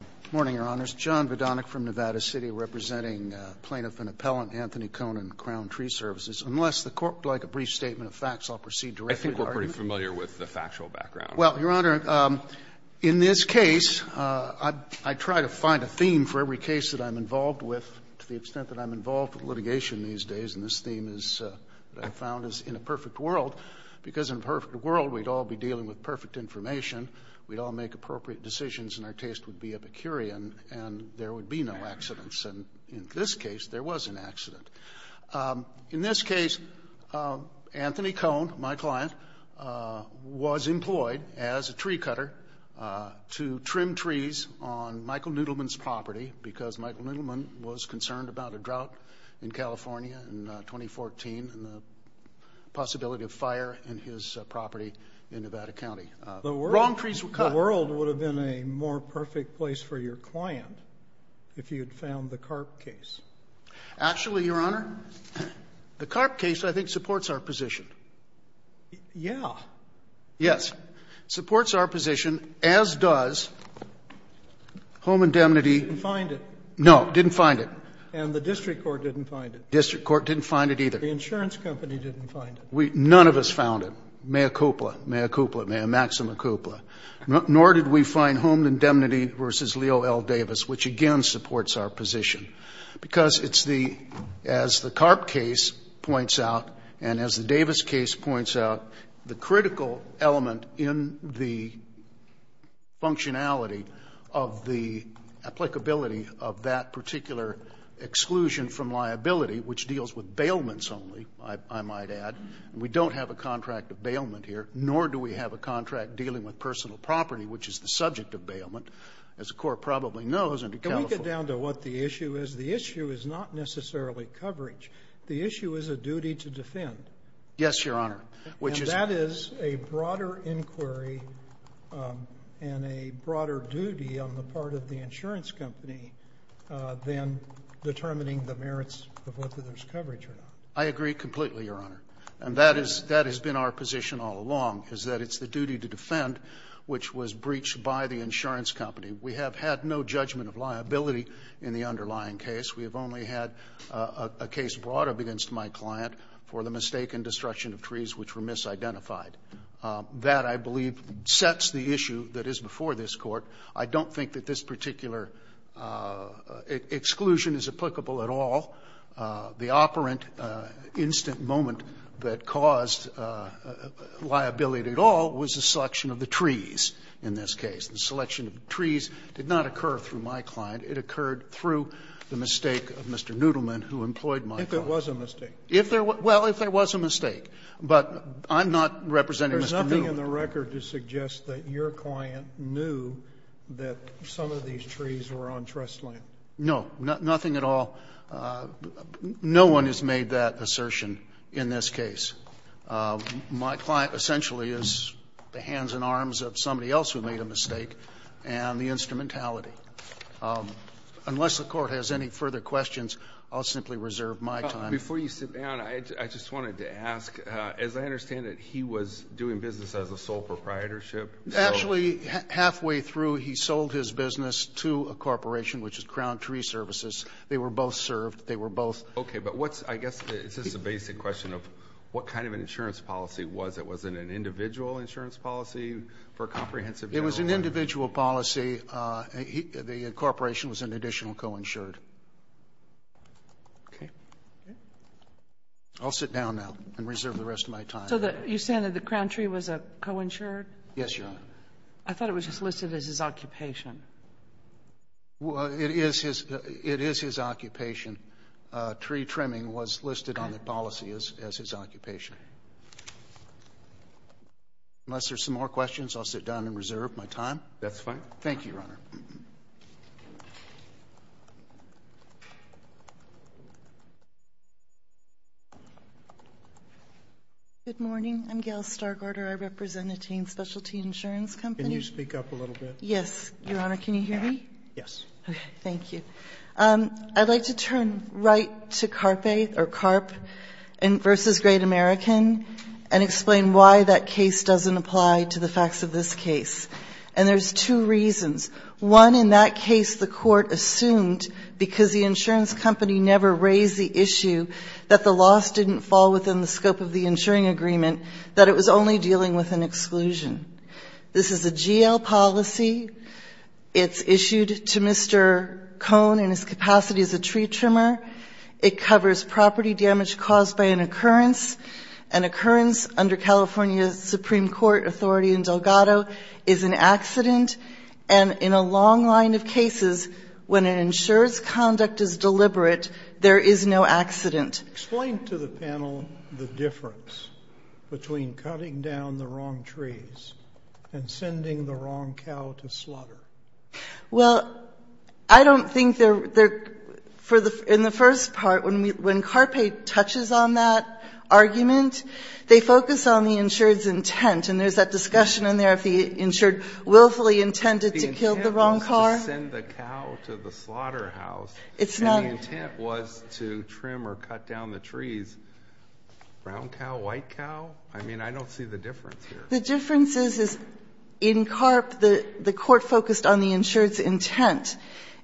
Good morning, Your Honors. John Vodonik from Nevada City, representing Plaintiff and Appellant Anthony Conin, Crown Tree Services. Unless the Court would like a brief statement of facts, I'll proceed directly to argument. I think we're pretty familiar with the factual background. Well, Your Honor, in this case, I try to find a theme for every case that I'm involved with, to the extent that I'm involved with litigation these days, and this theme is what I found is in a perfect world, because in a perfect world, we'd all be dealing with perfect information, we'd all make appropriate decisions, and our taste would be Epicurean, and there would be no accidents, and in this case, there was an accident. In this case, Anthony Conin, my client, was employed as a tree cutter to trim trees on Michael Noodleman's property, because Michael Noodleman was concerned about a drought in The world would have been a more perfect place for your client if you had found the Karp case. Actually, Your Honor, the Karp case, I think, supports our position. Yeah. Yes. Supports our position, as does Home Indemnity. Didn't find it. No, didn't find it. And the district court didn't find it. District court didn't find it either. The insurance company didn't find it. None of us found it. Mayor Kupla, Mayor Kupla, Mayor Maxima Kupla, nor did we find Home Indemnity versus Leo L. Davis, which again supports our position, because it's the, as the Karp case points out, and as the Davis case points out, the critical element in the functionality of the applicability of that particular exclusion from liability, which deals with bailments only, I might add. We don't have a contract of bailment here, nor do we have a contract dealing with personal property, which is the subject of bailment, as the court probably knows, and to California. Can we get down to what the issue is? The issue is not necessarily coverage. The issue is a duty to defend. Yes, Your Honor. Which is. And that is a broader inquiry and a broader duty on the part of the insurance company than determining the merits of whether there's coverage or not. I agree completely, Your Honor. And that is, that has been our position all along, is that it's the duty to defend, which was breached by the insurance company. We have had no judgment of liability in the underlying case. We have only had a case brought up against my client for the mistaken destruction of trees which were misidentified. That, I believe, sets the issue that is before this Court. I don't think that this particular exclusion is applicable at all. The operant instant moment that caused liability at all was the selection of the trees in this case. The selection of the trees did not occur through my client. It occurred through the mistake of Mr. Noodleman, who employed my client. If there was a mistake. If there was – well, if there was a mistake, but I'm not representing Mr. Noodleman. There's nothing in the record to suggest that your client knew that some of these trees were on trust land. No. Nothing at all. No one has made that assertion in this case. My client essentially is the hands and arms of somebody else who made a mistake and the instrumentality. Unless the Court has any further questions, I'll simply reserve my time. Before you sit down, I just wanted to ask, as I understand it, he was doing business as a sole proprietorship. Actually, halfway through, he sold his business to a corporation, which is Crown Tree Services. They were both served. They were both – Okay, but what's – I guess it's just a basic question of what kind of an insurance policy was it? Was it an individual insurance policy for a comprehensive – It was an individual policy. The corporation was an additional co-insured. Okay. I'll sit down now and reserve the rest of my time. So you're saying that the Crown Tree was a co-insured? Yes, Your Honor. I thought it was just listed as his occupation. Well, it is his occupation. Tree trimming was listed on the policy as his occupation. Unless there's some more questions, I'll sit down and reserve my time. That's fine. Thank you, Your Honor. Good morning. I'm Gail Stargardner. I represent a teen specialty insurance company. Can you speak up a little bit? Yes, Your Honor. Your Honor, can you hear me? Yes. Okay. Thank you. I'd like to turn right to CARPE or CARP v. Great American and explain why that case doesn't apply to the facts of this case. And there's two reasons. One in that case the Court assumed because the insurance company never raised the issue that the loss didn't fall within the scope of the insuring agreement, that it was only dealing with an exclusion. This is a GL policy. It's issued to Mr. Cohn in his capacity as a tree trimmer. It covers property damage caused by an occurrence. An occurrence under California's Supreme Court authority in Delgado is an accident. And in a long line of cases, when an insurer's conduct is deliberate, there is no accident. Explain to the panel the difference between cutting down the wrong trees and sending the wrong cow to slaughter. Well, I don't think they're for the — in the first part, when CARPE touches on that argument, they focus on the insurer's intent. And there's that discussion in there if the insurer willfully intended to kill the wrong cow. The intent was to send the cow to the slaughterhouse. It's not — But if the intent was to trim or cut down the trees, brown cow, white cow, I mean, I don't see the difference here. The difference is, in CARPE, the Court focused on the insurer's intent.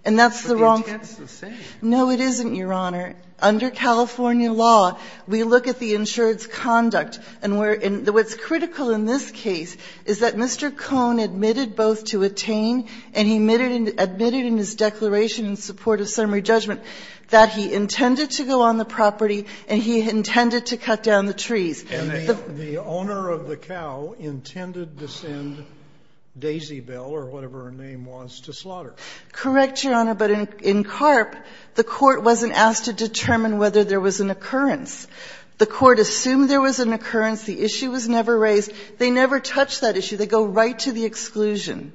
And that's the wrong — But the intent's the same. No, it isn't, Your Honor. Under California law, we look at the insurer's conduct. And what's critical in this case is that Mr. Cohn admitted both to attain, and he admitted in his declaration in support of summary judgment, that he intended to go on the property and he intended to cut down the trees. And the owner of the cow intended to send Daisy Bell or whatever her name was to slaughter. Correct, Your Honor. But in CARPE, the Court wasn't asked to determine whether there was an occurrence. The Court assumed there was an occurrence. The issue was never raised. They never touch that issue. They go right to the exclusion.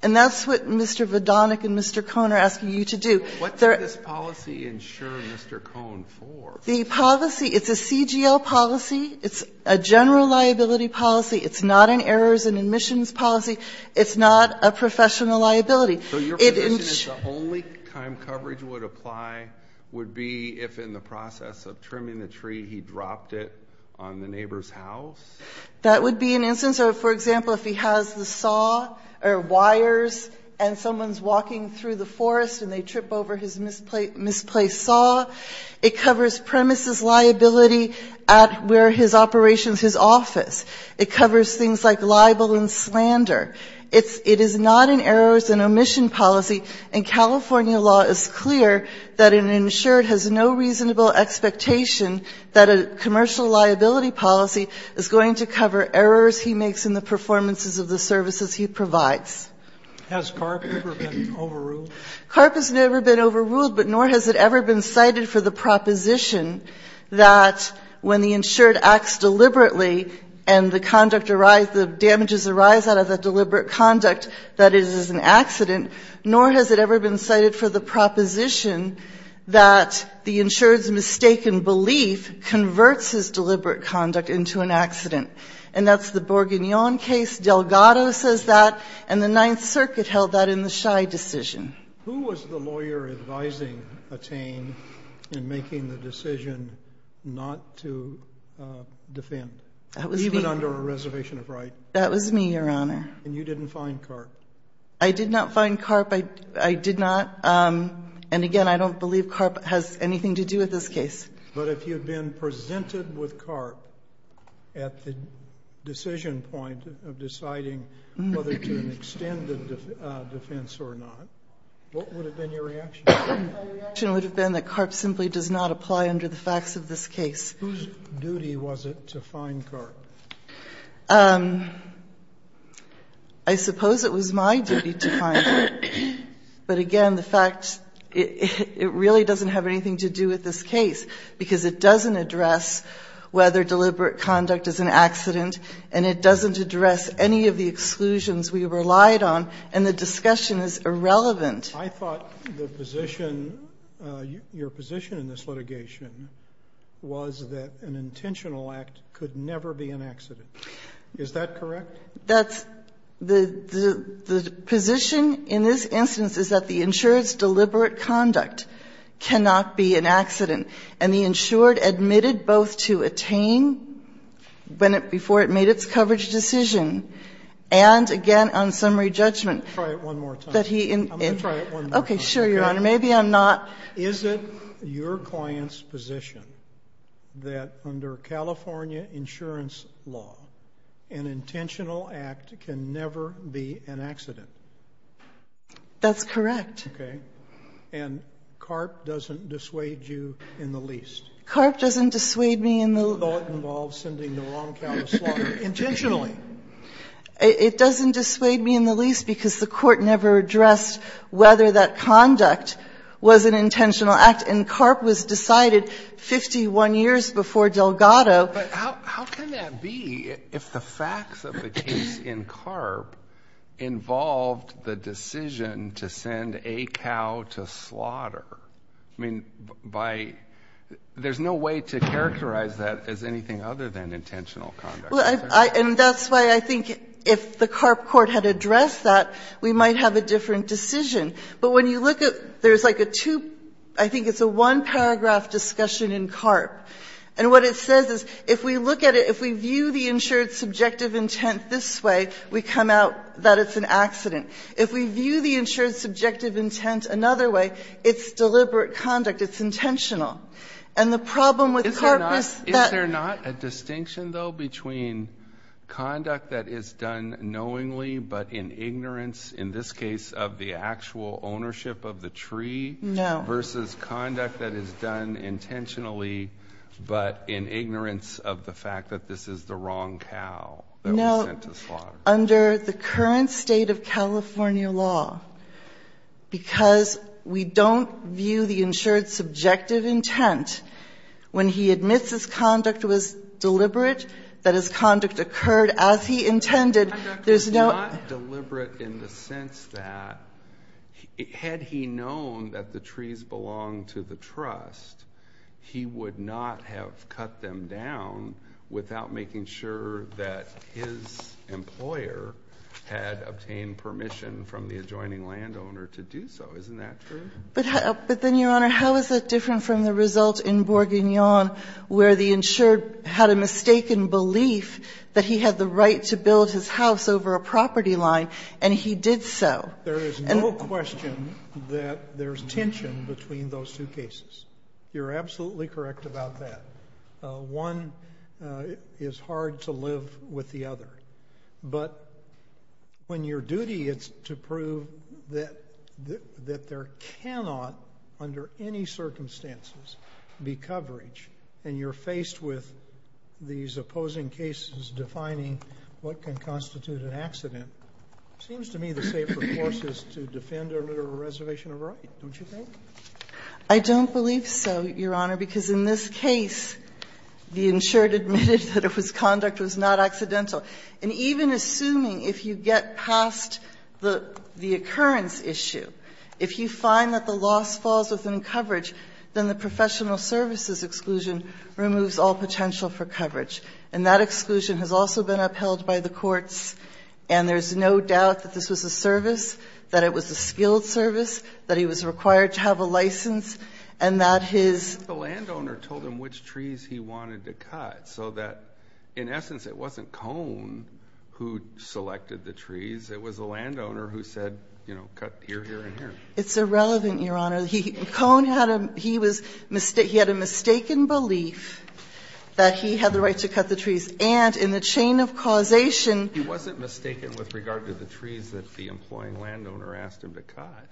And that's what Mr. Vodonik and Mr. Cohn are asking you to do. What did this policy insure Mr. Cohn for? The policy — it's a CGL policy. It's a general liability policy. It's not an errors and admissions policy. It's not a professional liability. So your position is the only time coverage would apply would be if, in the process of trimming the tree, he dropped it on the neighbor's house? That would be an instance. So, for example, if he has the saw or wires and someone's walking through the forest and they trip over his misplaced saw, it covers premises liability at where his operation is his office. It covers things like libel and slander. It's — it is not an errors and omission policy. And California law is clear that an insured has no reasonable expectation that a commercial liability policy is going to cover errors he makes in the performances of the services he provides. Has CARP ever been overruled? CARP has never been overruled, but nor has it ever been cited for the proposition that when the insured acts deliberately and the conduct — the damages arise out of that deliberate conduct, that it is an accident. Nor has it ever been cited for the proposition that the insured's mistaken belief converts his deliberate conduct into an accident. And that's the Borguignon case. Delgado says that. And the Ninth Circuit held that in the Scheid decision. Who was the lawyer advising Attain in making the decision not to defend? Even under a reservation of right. That was me, Your Honor. And you didn't find CARP? I did not find CARP. I did not. And, again, I don't believe CARP has anything to do with this case. But if you had been presented with CARP at the decision point of deciding whether to extend the defense or not, what would have been your reaction? My reaction would have been that CARP simply does not apply under the facts of this case. Whose duty was it to find CARP? I suppose it was my duty to find it. But, again, the fact — it really doesn't have anything to do with this case. Because it doesn't address whether deliberate conduct is an accident. And it doesn't address any of the exclusions we relied on. And the discussion is irrelevant. I thought the position — your position in this litigation was that an intentional act could never be an accident. Is that correct? That's — the position in this instance is that the insurance deliberate conduct cannot be an accident. And the insured admitted both to attain when it — before it made its coverage decision, and, again, on summary judgment — Try it one more time. — that he — I'm going to try it one more time. Okay. Sure, Your Honor. Maybe I'm not — Is it your client's position that under California insurance law, an intentional act can never be an accident? That's correct. Okay. And CARP doesn't dissuade you in the least. CARP doesn't dissuade me in the — Although it involves sending the wrong cow to slaughter intentionally. It doesn't dissuade me in the least because the Court never addressed whether that conduct was an intentional act. And CARP was decided 51 years before Delgado. But how can that be if the facts of the case in CARP involved the decision to send a cow to slaughter? I mean, by — there's no way to characterize that as anything other than intentional conduct. Well, I — and that's why I think if the CARP Court had addressed that, we might have a different decision. But when you look at — there's like a two — I think it's a one-paragraph discussion in CARP. And what it says is if we look at it, if we view the insured subjective intent this way, we come out that it's an accident. If we view the insured subjective intent another way, it's deliberate conduct. It's intentional. And the problem with CARP is that — Is there not a distinction, though, between conduct that is done knowingly but in ignorance, in this case of the actual ownership of the tree — No. — versus conduct that is done intentionally but in ignorance of the fact that this is the wrong cow that was sent to slaughter? No. Under the current State of California law, because we don't view the insured subjective intent, when he admits his conduct was deliberate, that his conduct occurred as he intended, there's no — It's deliberate in the sense that, had he known that the trees belonged to the trust, he would not have cut them down without making sure that his employer had obtained permission from the adjoining landowner to do so. Isn't that true? But then, Your Honor, how is it different from the result in Bourguignon, where the insured had a mistaken belief that he had the right to build his house over a And he did so. There is no question that there's tension between those two cases. You're absolutely correct about that. One is hard to live with the other. But when your duty is to prove that there cannot, under any circumstances, be coverage, and you're faced with these opposing cases defining what can constitute an accident, it seems to me the safer course is to defend a literal reservation of right, don't you think? I don't believe so, Your Honor, because in this case, the insured admitted that his conduct was not accidental. And even assuming, if you get past the occurrence issue, if you find that the loss falls within coverage, then the professional services exclusion removes all potential for coverage. And that exclusion has also been upheld by the courts. And there's no doubt that this was a service, that it was a skilled service, that he was required to have a license, and that his The landowner told him which trees he wanted to cut, so that, in essence, it wasn't Cone who selected the trees. It was the landowner who said, you know, cut here, here, and here. It's irrelevant, Your Honor. Cone had a he was he had a mistaken belief that he had the right to cut the trees. And in the chain of causation He wasn't mistaken with regard to the trees that the employing landowner asked him to cut.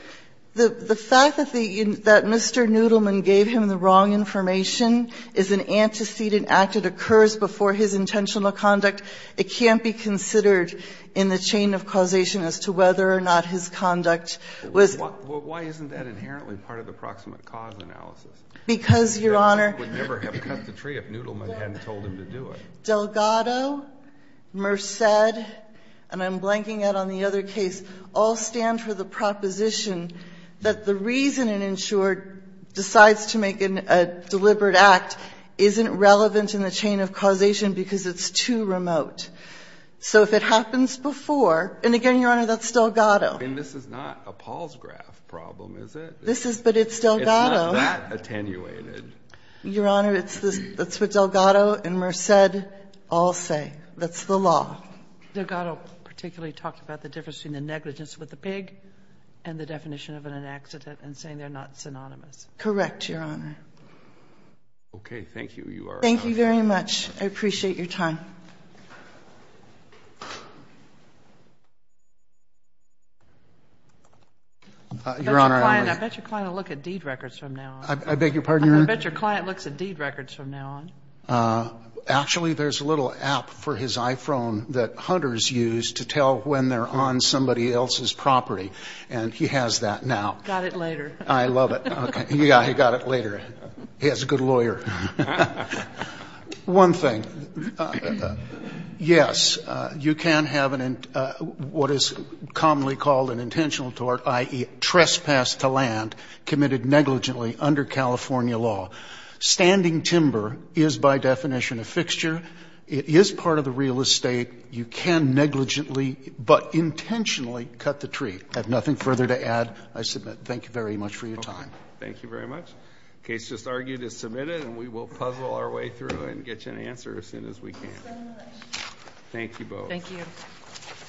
The fact that the that Mr. Noodleman gave him the wrong information is an antecedent act. It occurs before his intentional conduct. It can't be considered in the chain of causation as to whether or not his conduct was Well, why isn't that inherently part of the proximate cause analysis? Because, Your Honor He would never have cut the tree if Noodleman hadn't told him to do it. Delgado, Merced, and I'm blanking out on the other case, all stand for the proposition that the reason an insurer decides to make a deliberate act isn't relevant in the chain of causation because it's too remote. So if it happens before, and again, Your Honor, that's Delgado. And this is not a Paul's graph problem, is it? This is, but it's Delgado. It's not that attenuated. Your Honor, it's the, that's what Delgado and Merced all say. That's the law. Delgado particularly talked about the difference between the negligence with the pig and the definition of an accident and saying they're not synonymous. Correct, Your Honor. Okay. Thank you. You are. Thank you very much. I appreciate your time. Your Honor, I would. I bet your client will look at deed records from now on. I beg your pardon, Your Honor? I bet your client looks at deed records from now on. Actually, there's a little app for his iPhone that hunters use to tell when they're on somebody else's property, and he has that now. Got it later. I love it. Okay. Yeah, he got it later. He has a good lawyer. One thing. Yes, you can have what is commonly called an intentional tort, i.e., trespass to land committed negligently under California law. Standing timber is by definition a fixture. It is part of the real estate. You can negligently but intentionally cut the tree. I have nothing further to add. I submit thank you very much for your time. Thank you very much. The case just argued is submitted, and we will puzzle our way through and get you an answer as soon as we can. Thank you both. Thank you.